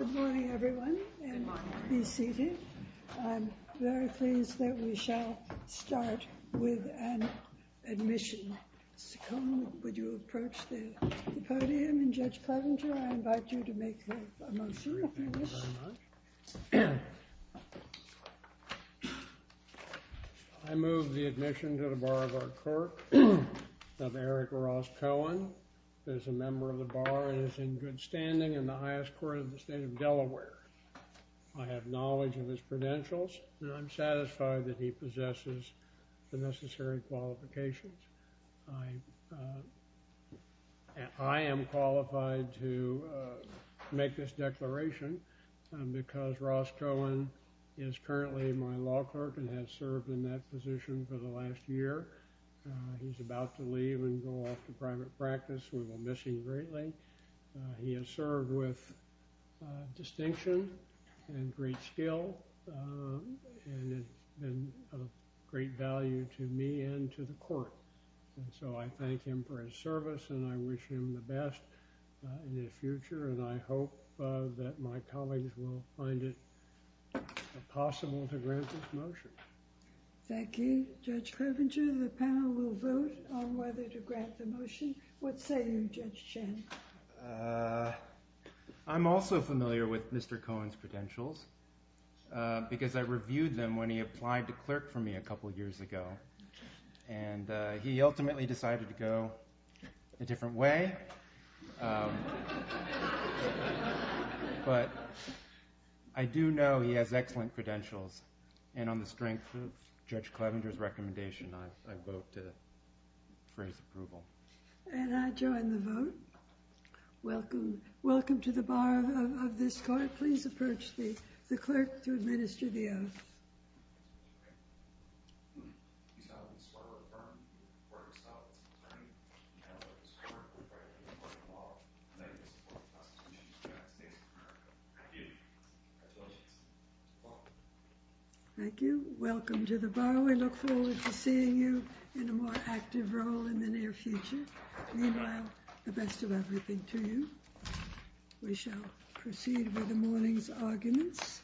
Good morning, everyone, and be seated. I'm very pleased that we shall start with an admission. Mr. Cohen, would you approach the podium, and Judge Clevenger, I invite you to make a motion. I move the admission to the bar of our court of Eric Ross Cohen, who is a member of the bar, and is in good standing in the highest court of the state of Delaware. I have knowledge of his credentials, and I'm satisfied that he possesses the necessary qualifications. I am qualified to make this declaration because Ross Cohen is currently my law clerk and has served in that position for the last year. He's about to leave and go off to private practice. We will miss him greatly. He has served with distinction and great skill, and it's been of great value to me and to the court. And so I thank him for his service, and I wish him the best in the future, and I hope that my colleagues will find it possible to grant this motion. Thank you. Judge Clevenger, the panel will vote on whether to accept the motion. What say you, Judge Chen? I'm also familiar with Mr. Cohen's credentials because I reviewed them when he applied to clerk for me a couple years ago, and he ultimately decided to go a different way. But I do know he has excellent credentials, and on the strength of Judge Clevenger's recommendation, I vote to raise approval. And I join the vote. Welcome to the bar of this court. Please approach the clerk to administer the oath. Thank you. Welcome to the bar. We look forward to seeing you in a more active role in the near future. Meanwhile, the best of everything to you. We shall proceed with the morning's arguments.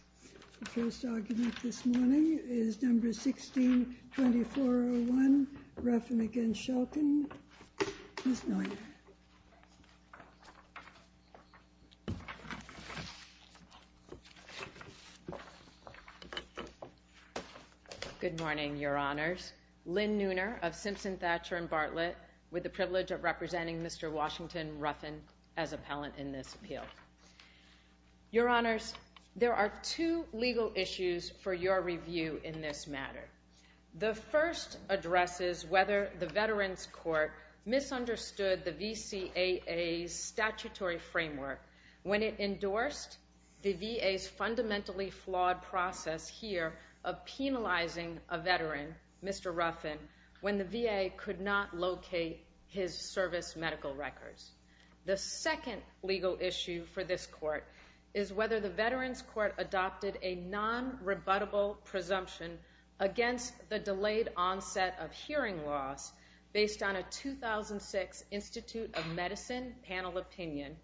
The first argument this morning is number 16-2401, Ruffin against Shulkin. Good morning, Your Honors. Lynn Nooner of Simpson, Thatcher & Bartlett, with the privilege of representing Mr. Washington Ruffin as appellant in this appeal. Your Honors, there are two legal issues for your review in this matter. The first addresses whether the Veterans Court misunderstood the VCAA's statutory framework when it endorsed the VA's fundamentally flawed process here of penalizing a veteran, Mr. Ruffin, when the VA could not locate his service medical records. The second legal issue for this court is whether the Veterans Court adopted a non-rebuttable presumption against the delayed onset of hearing loss based on a 2006 Institute of Medicine panel opinion.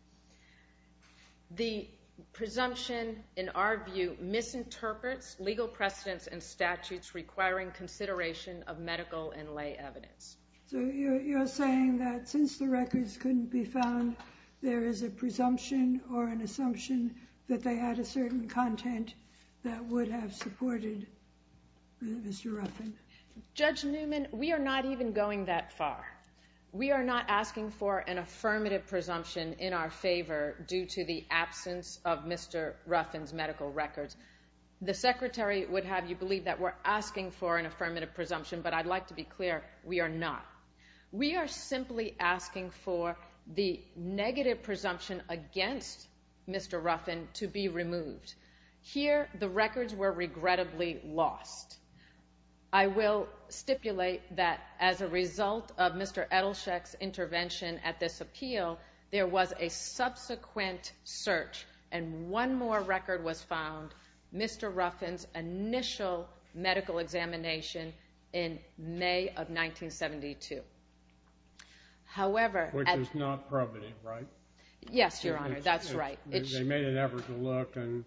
The presumption, in our view, misinterprets legal precedents and statutes requiring consideration of medical and lay evidence. So you're saying that since the records couldn't be found, there is a presumption or an assumption that they had a certain content that would have supported Mr. Ruffin? Judge Newman, we are not even going that far. We are not asking for an affirmative presumption in our favor due to the absence of Mr. Ruffin's medical records. The Secretary would have you that we're asking for an affirmative presumption, but I'd like to be clear, we are not. We are simply asking for the negative presumption against Mr. Ruffin to be removed. Here, the records were regrettably lost. I will stipulate that as a result of Mr. Edelsheck's intervention at this medical examination in May of 1972. Which is not probative, right? Yes, Your Honor, that's right. They made an effort to look, and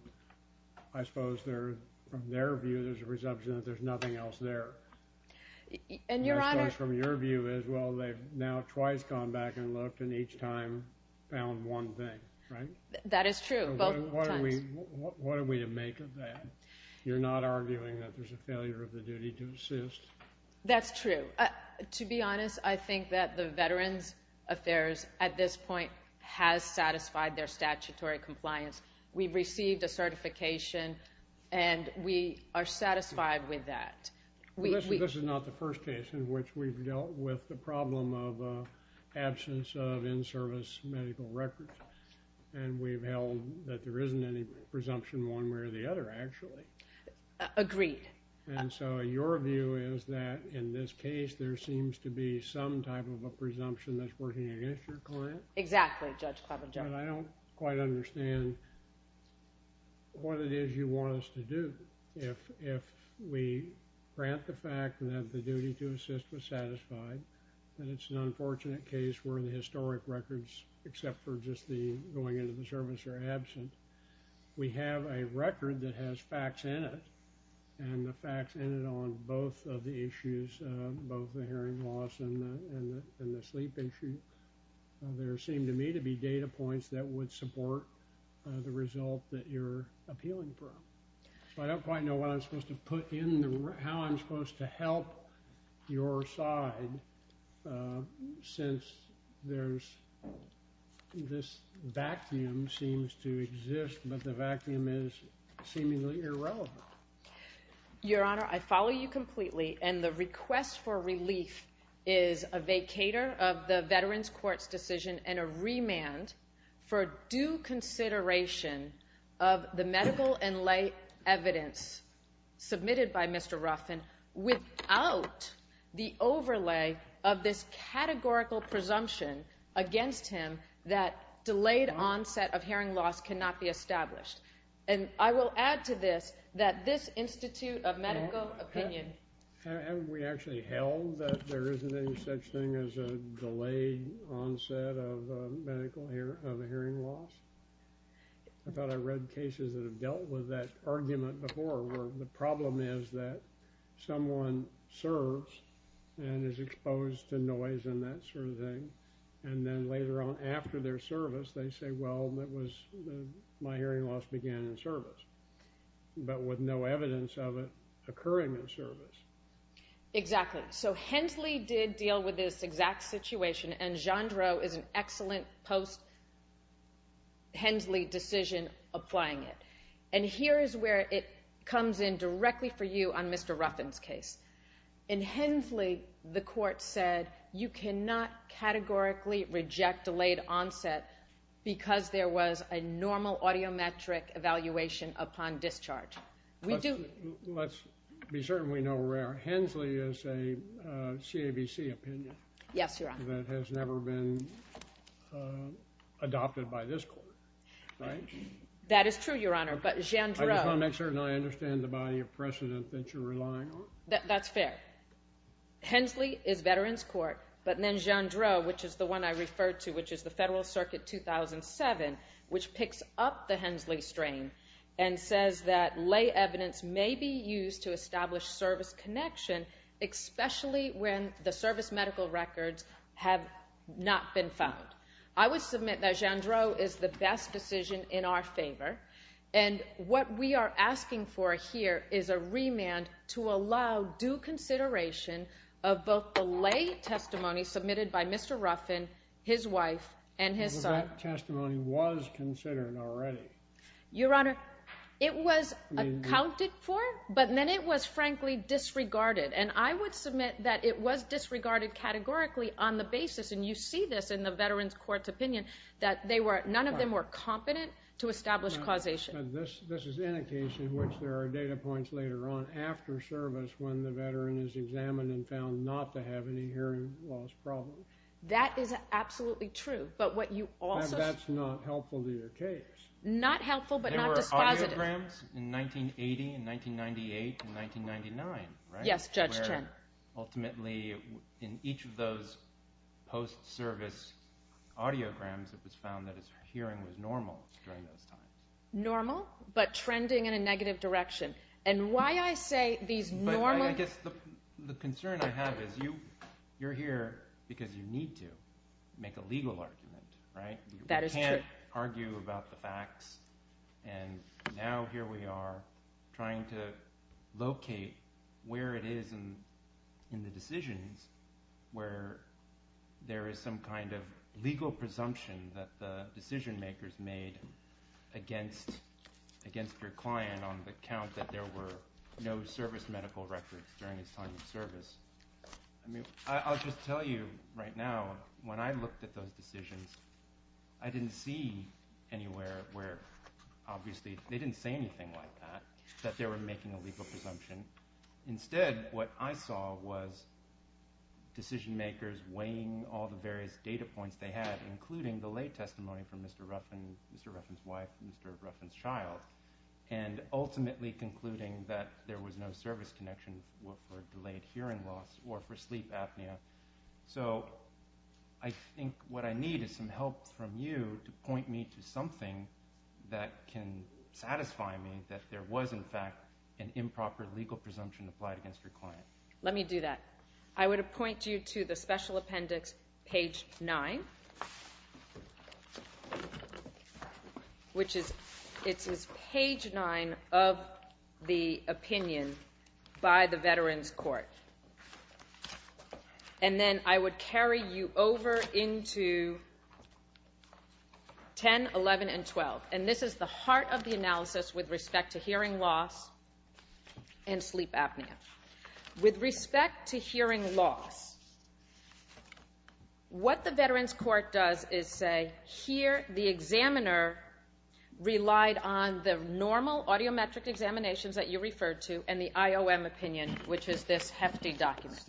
I suppose from their view, there's a presumption that there's nothing else there. And I suppose from your view as well, they've now twice gone back and looked and each time found one thing, right? That is true, both times. What are we to make of that? You're not arguing that there's a failure of the duty to assist? That's true. To be honest, I think that the Veterans Affairs at this point has satisfied their statutory compliance. We've received a certification and we are satisfied with that. This is not the first case in which we've dealt with the problem of absence of in-service medical records. And we've held that there isn't any presumption one way or the other, actually. Agreed. And so your view is that in this case, there seems to be some type of a presumption that's working against your client? Exactly, Judge Kleven. I don't quite understand what it is you want us to do. If we grant the fact that the duty to assist was satisfied, and it's an unfortunate case where the historic records, except for just the going into the service, are absent, we have a record that has facts in it. And the facts in it on both of the issues, both the hearing loss and the sleep issue, there seem to me to be data points that would support the result that you're appealing for. So I don't quite know what I'm supposed to help your side since this vacuum seems to exist, but the vacuum is seemingly irrelevant. Your Honor, I follow you completely. And the request for relief is a vacator of the Veterans Court's decision and a remand for due consideration of the medical and light evidence submitted by Mr. Ruffin, without the overlay of this categorical presumption against him that delayed onset of hearing loss cannot be established. And I will add to this that this Institute of Medical Opinion... Have we actually held that there isn't any such thing as a delayed onset of medical hearing loss? I thought I read cases that have dealt with that argument before, where the problem is that someone serves and is exposed to noise and that sort of thing, and then later on after their service, they say, well, my hearing loss began in service, but with no evidence of it occurring in service. Exactly. So Hensley did deal with this exact situation, and Jeandreau is an excellent post-Hensley decision applying it. And here is where it comes in directly for you on Mr. Ruffin's case. In Hensley, the Court said you cannot categorically reject delayed onset because there was a normal audiometric evaluation upon discharge. We do... Let's be certain we know where Hensley is a CABC opinion. Yes, Your Honor. That has never been adopted by this Court, right? That is true, Your Honor, but Jeandreau... I just want to make certain I understand the body of precedent that you're relying on. That's fair. Hensley is Veterans Court, but then Jeandreau, which is the one I referred to, which is the Federal Circuit 2007, which picks up the Hensley strain and says that lay evidence may be used to establish service connection, especially when the service medical records have not been found. I would submit that Jeandreau is the best decision in our favor, and what we are asking for here is a remand to allow due consideration of both the lay testimony submitted by Mr. Ruffin, his wife, and his son. But that testimony was considered already. Your Honor, it was accounted for, but then it was frankly disregarded, and I would submit that it was disregarded categorically on the basis, and you see this in the Veterans Court's opinion, that none of them were competent to establish causation. This is an indication, which there are data points later on after service when the veteran is examined and found not to have any hearing loss problems. That is absolutely true, but what you also... That's not helpful to your case. Not helpful, but not dispositive. There were audiograms in 1980 and 1998 and 1999, right? Yes, Judge Trent. Ultimately, in each of those post-service audiograms, it was found that his hearing was normal during those times. Normal, but trending in a normal... I guess the concern I have is you're here because you need to make a legal argument, right? That is true. You can't argue about the facts, and now here we are trying to locate where it is in the decisions where there is some kind of legal presumption that the veteran had no hearing loss during his time of service. I'll just tell you right now, when I looked at those decisions, I didn't see anywhere where, obviously, they didn't say anything like that, that they were making a legal presumption. Instead, what I saw was decision makers weighing all the various data points they had, including the lay testimony from Mr. Ruffin, Mr. Ruffin's wife, Mr. Ruffin's child, and ultimately concluding that there was no service connection for delayed hearing loss or for sleep apnea. So, I think what I need is some help from you to point me to something that can satisfy me that there was, in fact, an improper legal presumption applied against your client. Let me do that. I would appoint you to the special appendix, page 9, which is page 9 of the opinion by the Veterans Court, and then I would carry you over into 10, 11, and 12, and this is the heart of the analysis with respect to hearing loss and sleep apnea. With respect to hearing loss, what the Veterans Court does is say, here the examiner relied on the normal audiometric examinations that you referred to and the IOM opinion, which is this hefty document.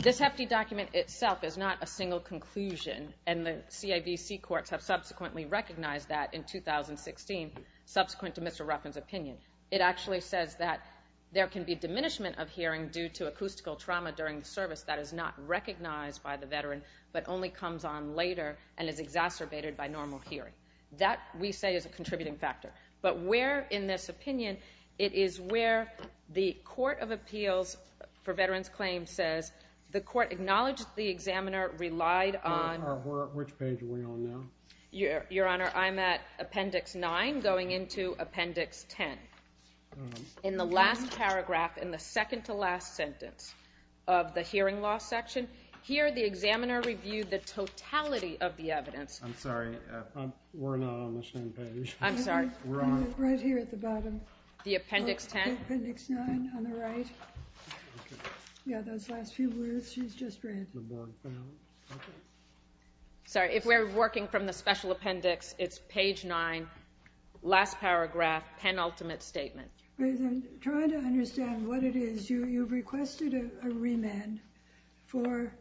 This hefty document itself is not a single conclusion, and the CAVC courts have subsequently recognized that in 2016, subsequent to Mr. Ruffin's opinion. It actually says that there can be diminishment of hearing due to acoustical trauma during the service that is not recognized by the veteran, but only comes on later and is exacerbated by normal hearing. That, we say, is a contributing factor, but where, in this opinion, it is where the Court of Appeals for Veterans Claims says the court acknowledged the examiner relied on... Which page are we on now? Your Honor, I'm at Appendix 9 going into Appendix 10. In the last paragraph, in the second-to-last sentence of the hearing loss section, here the examiner reviewed the totality of the evidence. I'm sorry, we're not on the same page. I'm sorry. We're on... Right here at the bottom. The Appendix 10? Appendix 9 on the right. Yeah, those last few words she's just read. Sorry, if we're working from the special appendix, it's page 9, last paragraph, penultimate statement. Trying to understand what it is, you requested a remand for,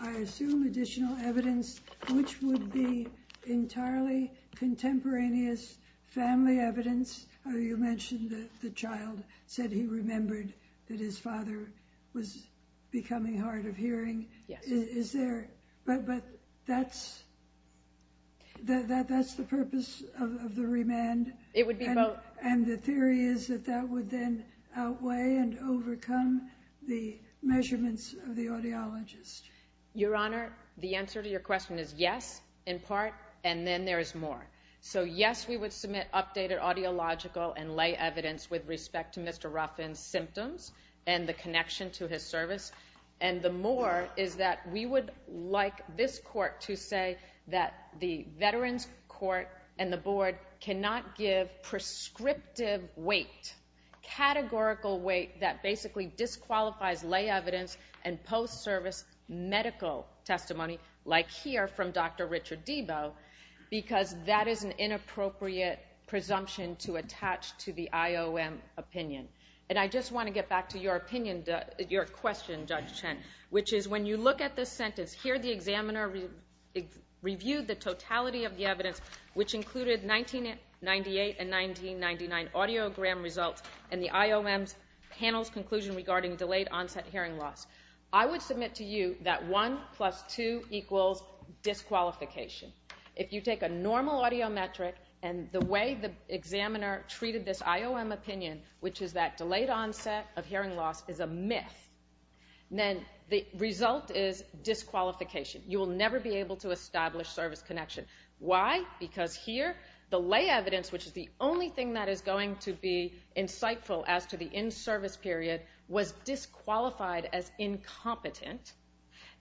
I assume, additional evidence, which would be entirely contemporaneous family evidence. You mentioned that the child said he was becoming hard of hearing. But that's the purpose of the remand, and the theory is that that would then outweigh and overcome the measurements of the audiologist. Your Honor, the answer to your question is yes, in part, and then there is more. So yes, we would submit updated audiological and lay evidence with respect to Mr. Ruffin's symptoms and the connection to his service. And the more is that we would like this Court to say that the Veterans Court and the Board cannot give prescriptive weight, categorical weight, that basically disqualifies lay evidence and post-service medical testimony, like here from Dr. Richard Deboe, because that is an inappropriate presumption to attach to the IOM opinion. And I just want to get back to your opinion, your question, Judge Chen, which is when you look at this sentence, here the examiner reviewed the totality of the evidence, which included 1998 and 1999 audiogram results and the IOM's panel's conclusion regarding delayed onset hearing loss. I would submit to you that 1 plus 2 equals disqualification. If you take a normal audiometric and the way the examiner treated this IOM opinion, which is that delayed onset of hearing loss is a myth, then the result is disqualification. You will never be able to establish service connection. Why? Because here the lay evidence, which is the only thing that is going to be insightful as to the in-service period, was disqualified as incompetent.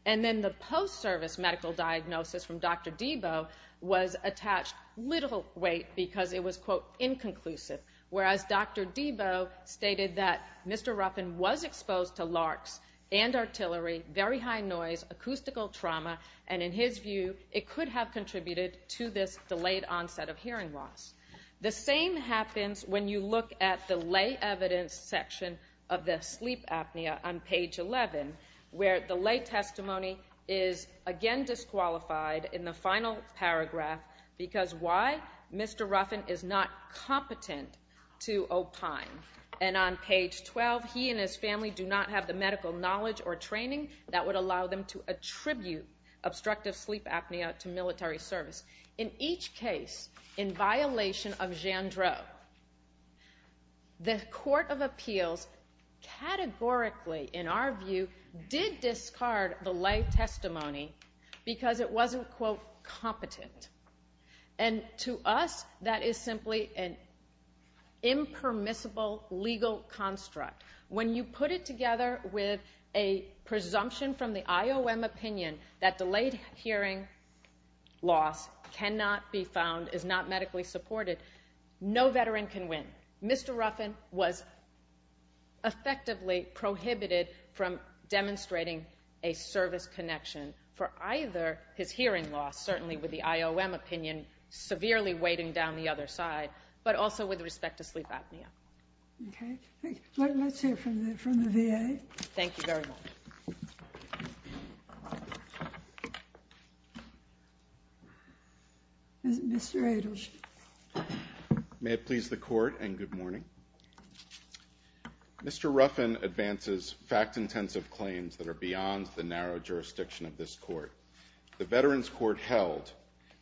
And then the post-service medical diagnosis from Dr. Deboe was attached little weight because it was, quote, inconclusive, whereas Dr. Deboe stated that Mr. Ruffin was exposed to larks and artillery, very high noise, acoustical trauma, and in his view it could have contributed to this delayed onset of hearing loss. The same happens when you look at the lay evidence section of the sleep apnea on page 11, where the lay testimony is again disqualified in the final paragraph because why? Mr. Ruffin is not competent to opine. And on page 12, he and his family do not have the medical knowledge or training that would allow them to attribute obstructive sleep apnea to military service. In each case in violation of because it wasn't, quote, competent. And to us, that is simply an impermissible legal construct. When you put it together with a presumption from the IOM opinion that delayed hearing loss cannot be found, is not medically supported, no veteran can win. Mr. Ruffin was effectively prohibited from demonstrating a service connection for either his hearing loss, certainly with the IOM opinion severely weighting down the other side, but also with respect to sleep apnea. Okay. Let's hear from the VA. Thank you very much. Mr. Adels. May it please the court and good morning. Mr. Ruffin advances fact-intensive claims that are beyond the narrow jurisdiction of this court. The Veterans Court held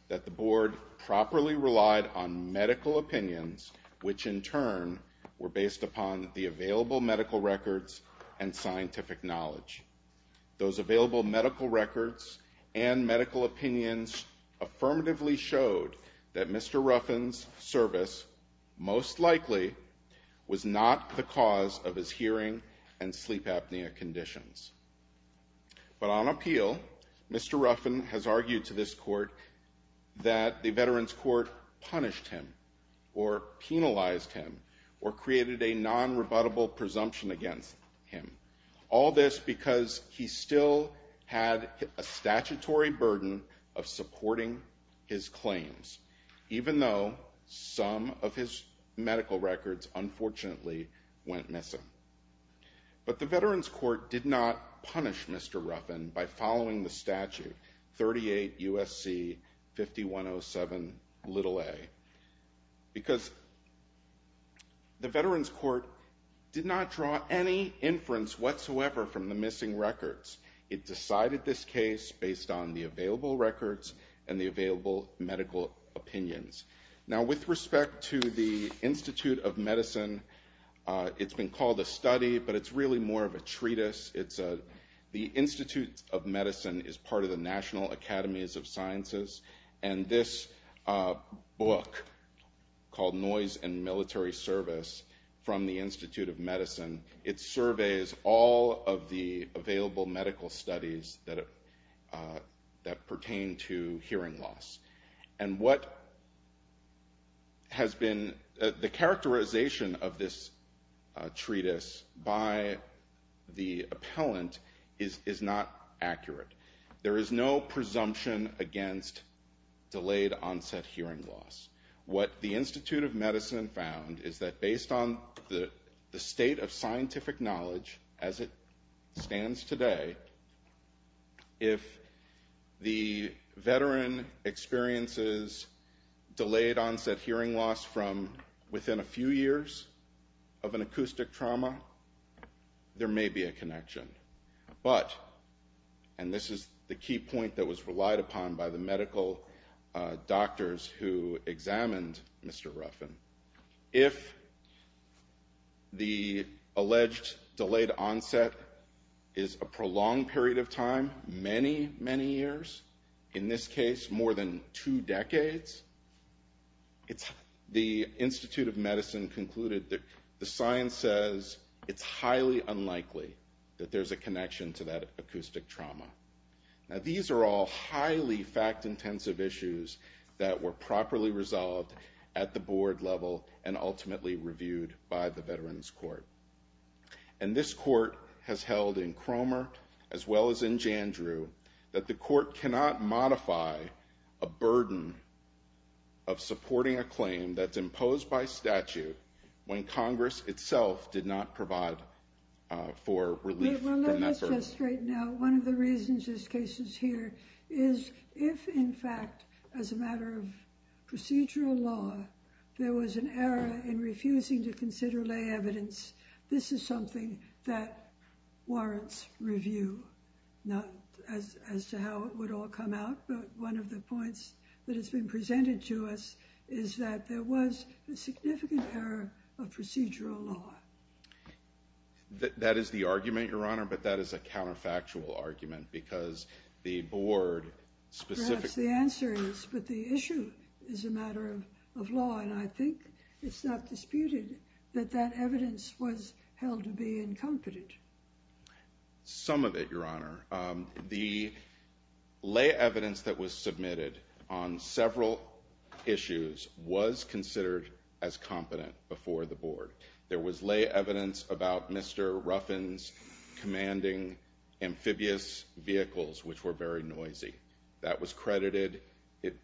that the board properly relied on medical opinions, which in turn were based upon the available medical records and scientific knowledge. Those available medical records and medical opinions affirmatively showed that Mr. Ruffin's service most likely was not the cause of his hearing and sleep apnea conditions. But on appeal, Mr. Ruffin has argued to this court that the Veterans Court punished him or penalized him or created a non-rebuttable presumption against him. All this because he still had a statutory burden of supporting his claims, even though some of his medical records, unfortunately, went missing. But the Veterans Court did not punish Mr. Ruffin by following the statute, 38 U.S.C. 5107a, because the Veterans Court did not draw any inference whatsoever from the missing records. It decided this case based on the available records and the available medical opinions. Now, with respect to the Institute of Medicine, it's been called a study, but it's really more of a treatise. The Institute of Medicine is part of the National Academies of Sciences, and this book called Noise and Military Service from the Institute of Medicine, it surveys all of the available medical studies that pertain to hearing loss. And what has been the characterization of this treatise by the appellant is not accurate. There is no presumption against delayed onset hearing loss. What the Institute of Medicine found is that based on the state of scientific knowledge as it stands today, if the veteran experiences delayed onset hearing loss from within a few years of an acoustic trauma, there may be a connection. But, and this is the key point that was relied upon by the medical doctors who examined Mr. Ruffin, if the alleged delayed onset is a prolonged period of time, many, many years, in this case, more than two decades, the Institute of Medicine concluded that the science says it's highly unlikely that there's a connection to that acoustic trauma. Now, these are all highly fact-intensive issues that were properly resolved at the board level and ultimately reviewed by the Veterans Court. And this court has held in Cromer as well as in Jandrew that the court cannot modify a burden of supporting a claim that's imposed by statute when Congress itself did not provide for relief. Well, let me just straighten out. One of the reasons this case is here is if in fact, as a matter of procedural law, there was an error in refusing to consider lay evidence, this is that warrants review, not as to how it would all come out. But one of the points that has been presented to us is that there was a significant error of procedural law. That is the argument, Your Honor, but that is a counterfactual argument because the board specifically... Perhaps the answer is, but the issue is a matter of law. And I think it's not disputed that that would be incompetent. Some of it, Your Honor. The lay evidence that was submitted on several issues was considered as competent before the board. There was lay evidence about Mr. Ruffin's commanding amphibious vehicles, which were very noisy. That was credited.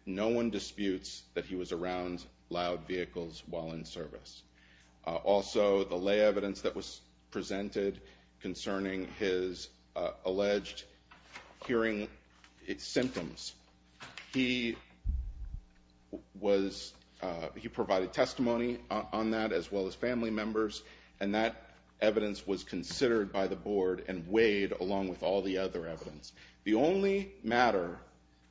No one disputes that he was around loud vehicles while in service. Also, the lay evidence that was presented concerning his alleged hearing symptoms, he provided testimony on that as well as family members. And that evidence was considered by the board and weighed along with all the other evidence. The only matter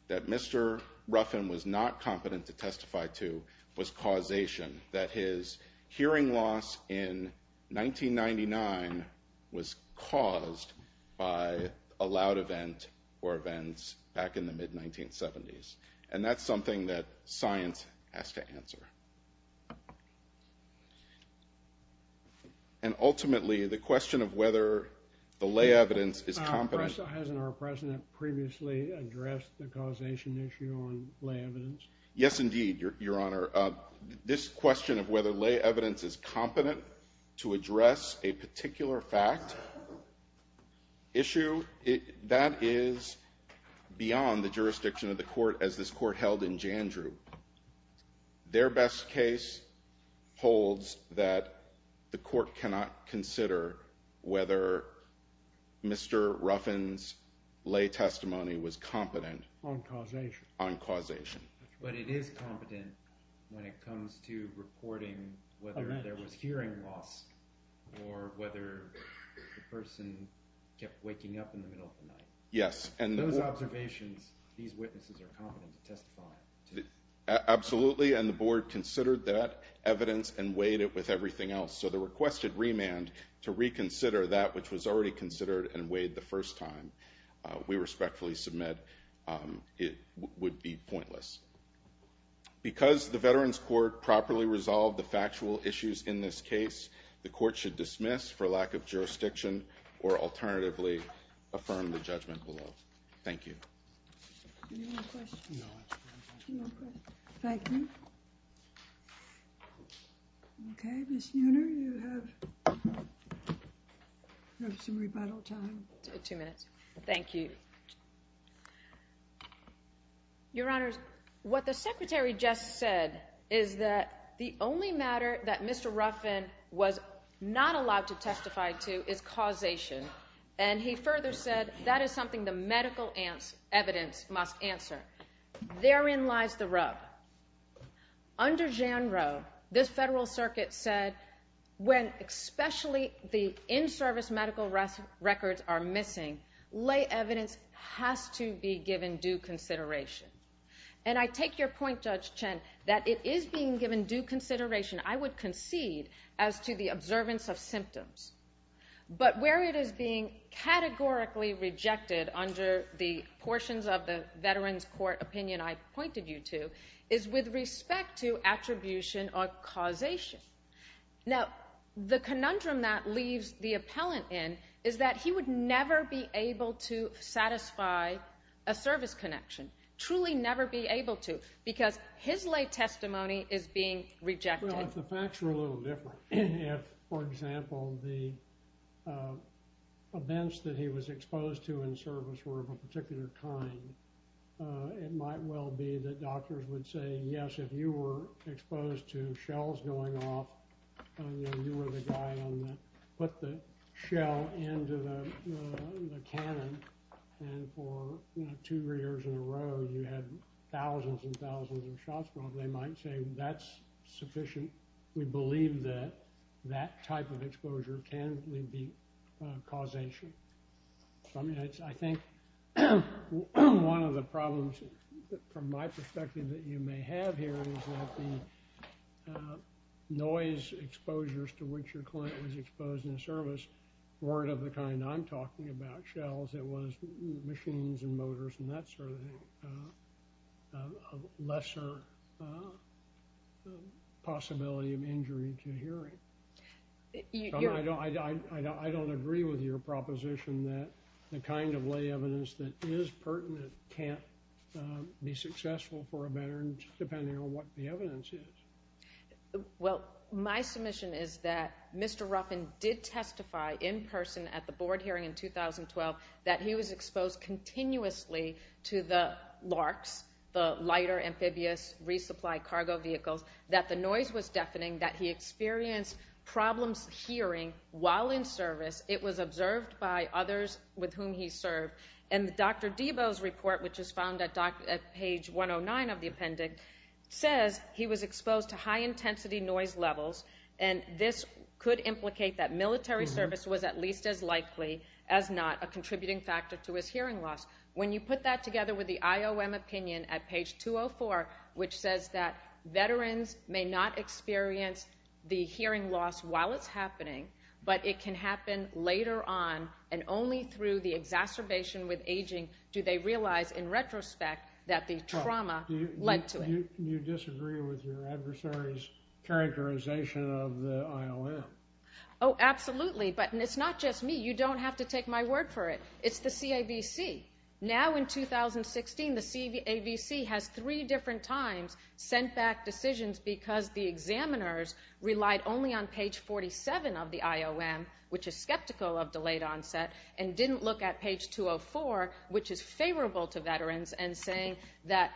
that Mr. Ruffin was not competent to testify to was causation, that his hearing loss in 1999 was caused by a loud event or events back in the mid-1970s. And that's something that science has to answer. And ultimately, the question of whether the lay evidence is competent... Hasn't our president previously addressed the causation issue on lay evidence? Yes, indeed, Your Honor. This question of whether lay evidence is competent to address a particular fact issue, that is beyond the jurisdiction of the court as this court held in Jandrew. Their best case holds that the court cannot consider whether Mr. Ruffin's lay testimony was competent... On causation. On causation. But it is competent when it comes to reporting whether there was hearing loss or whether the person kept waking up in the middle of the night. Yes, and... Those observations, these witnesses are competent to testify to. Absolutely, and the board considered that evidence and weighed it with everything else. The requested remand to reconsider that which was already considered and weighed the first time, we respectfully submit it would be pointless. Because the Veterans Court properly resolved the factual issues in this case, the court should dismiss for lack of jurisdiction or alternatively affirm the judgment below. Thank you. Do you have any questions? No, I have no questions. Thank you. Okay, Ms. Neuner, you have some rebuttal time. Two minutes. Thank you. Your Honors, what the Secretary just said is that the only matter that Mr. Ruffin was not allowed to testify to is causation, and he further said that is something the medical evidence must answer. Therein lies the rub. Under Jan Rowe, this Federal Circuit said when especially the in-service medical records are missing, lay evidence has to be given due consideration. And I take your point, Judge Chen, that it is being given due consideration, I would concede, as to the observance of symptoms. But where it is being categorically rejected under the portions of the Veterans Court opinion I pointed you to is with respect to attribution or causation. Now, the conundrum that leaves the appellant in is that he would never be able to satisfy a service connection, truly never be able to, because his lay testimony is being rejected. Well, if the facts were a little different, if, for example, the that he was exposed to in service were of a particular kind, it might well be that doctors would say, yes, if you were exposed to shells going off, you were the guy on the – put the shell into the cannon, and for two or three years in a row, you had thousands and thousands of shots. Well, they might say that's sufficient. We believe that that type of exposure can be causation. I mean, I think one of the problems, from my perspective, that you may have here is that the noise exposures to which your client was exposed in service weren't of the kind I'm talking about, shells. It was machines and motors and that sort of thing, a lesser possibility of injury to hearing. I don't agree with your proposition that the kind of lay evidence that is pertinent can't be successful for a veteran, depending on what the evidence is. Well, my submission is that Mr. Ruffin did testify in person at the board hearing in 2012 that he was exposed continuously to the LARCs, the Lighter Amphibious Resupply Cargo Vehicles, that the noise was deafening, that he experienced problems hearing while in service. It was observed by others with whom he served. And Dr. Deboe's report, which is found at page 109 of the appendix, says he was exposed to high-intensity noise levels, and this could implicate that contributing factor to his hearing loss. When you put that together with the IOM opinion at page 204, which says that veterans may not experience the hearing loss while it's happening, but it can happen later on, and only through the exacerbation with aging do they realize, in retrospect, that the trauma led to it. You disagree with your adversary's characterization of the IOM? Oh, it's the CAVC. Now in 2016, the CAVC has three different times sent back decisions because the examiners relied only on page 47 of the IOM, which is skeptical of delayed onset, and didn't look at page 204, which is favorable to veterans, and saying that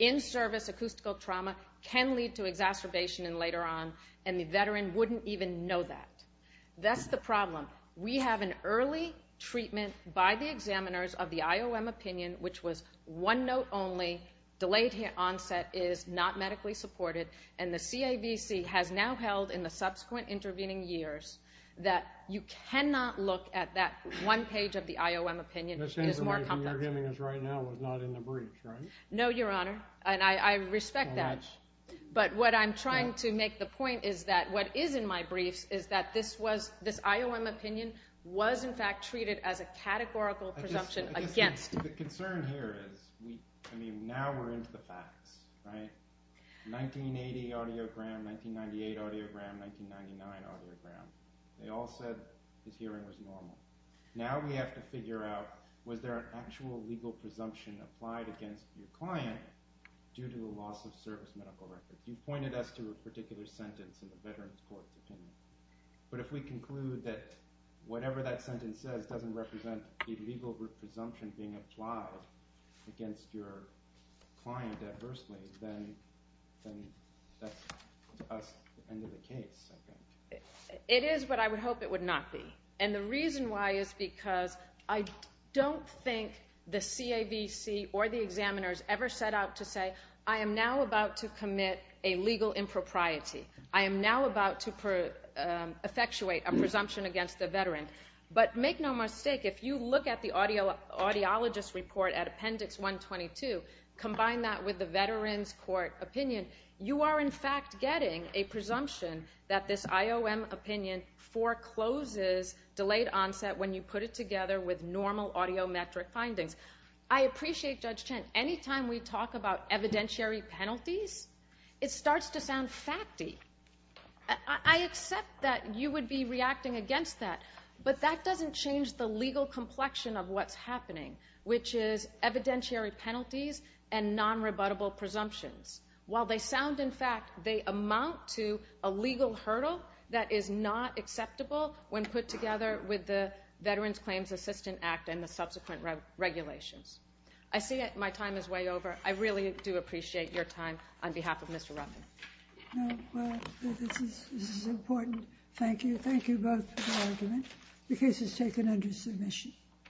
in-service acoustical trauma can lead to exacerbation later on, and the veteran wouldn't even know that. That's the problem. We have an early treatment by the examiners of the IOM opinion, which was one note only, delayed onset is not medically supported, and the CAVC has now held in the subsequent intervening years that you cannot look at that one page of the IOM opinion. This information you're giving us right now was not in the briefs, right? No, your honor, and I respect that, but what I'm trying to make the point is that what is in my opinion was in fact treated as a categorical presumption against. The concern here is, I mean, now we're into the facts, right? 1980 audiogram, 1998 audiogram, 1999 audiogram. They all said his hearing was normal. Now we have to figure out, was there an actual legal presumption applied against your client due to a loss of service medical records? You've pointed us to a particular sentence in the veterans court's opinion, but if we conclude that whatever that sentence says doesn't represent a legal presumption being applied against your client adversely, then that's us at the end of the case. It is, but I would hope it would not be, and the reason why is because I don't think the CAVC or the examiners ever set out to say, I am now about to commit a legal impropriety. I am now about to effectuate a presumption against the veteran, but make no mistake, if you look at the audiologist report at appendix 122, combine that with the veterans court opinion, you are in fact getting a presumption that this IOM opinion forecloses delayed onset when you put it together with normal audiometric findings. I appreciate Judge Chen. Anytime we talk about evidentiary penalties, it starts to sound facty. I accept that you would be reacting against that, but that doesn't change the legal complexion of what's happening, which is evidentiary penalties and non-rebuttable presumptions. While they sound in fact, they amount to a legal hurdle that is not acceptable when put together with the Veterans Claims Assistant Act and the subsequent regulations. I see my time is way over. I really do appreciate your time on behalf of Mr. Ruffin. No, well, this is important. Thank you. Thank you both for the argument. The case is taken under submission.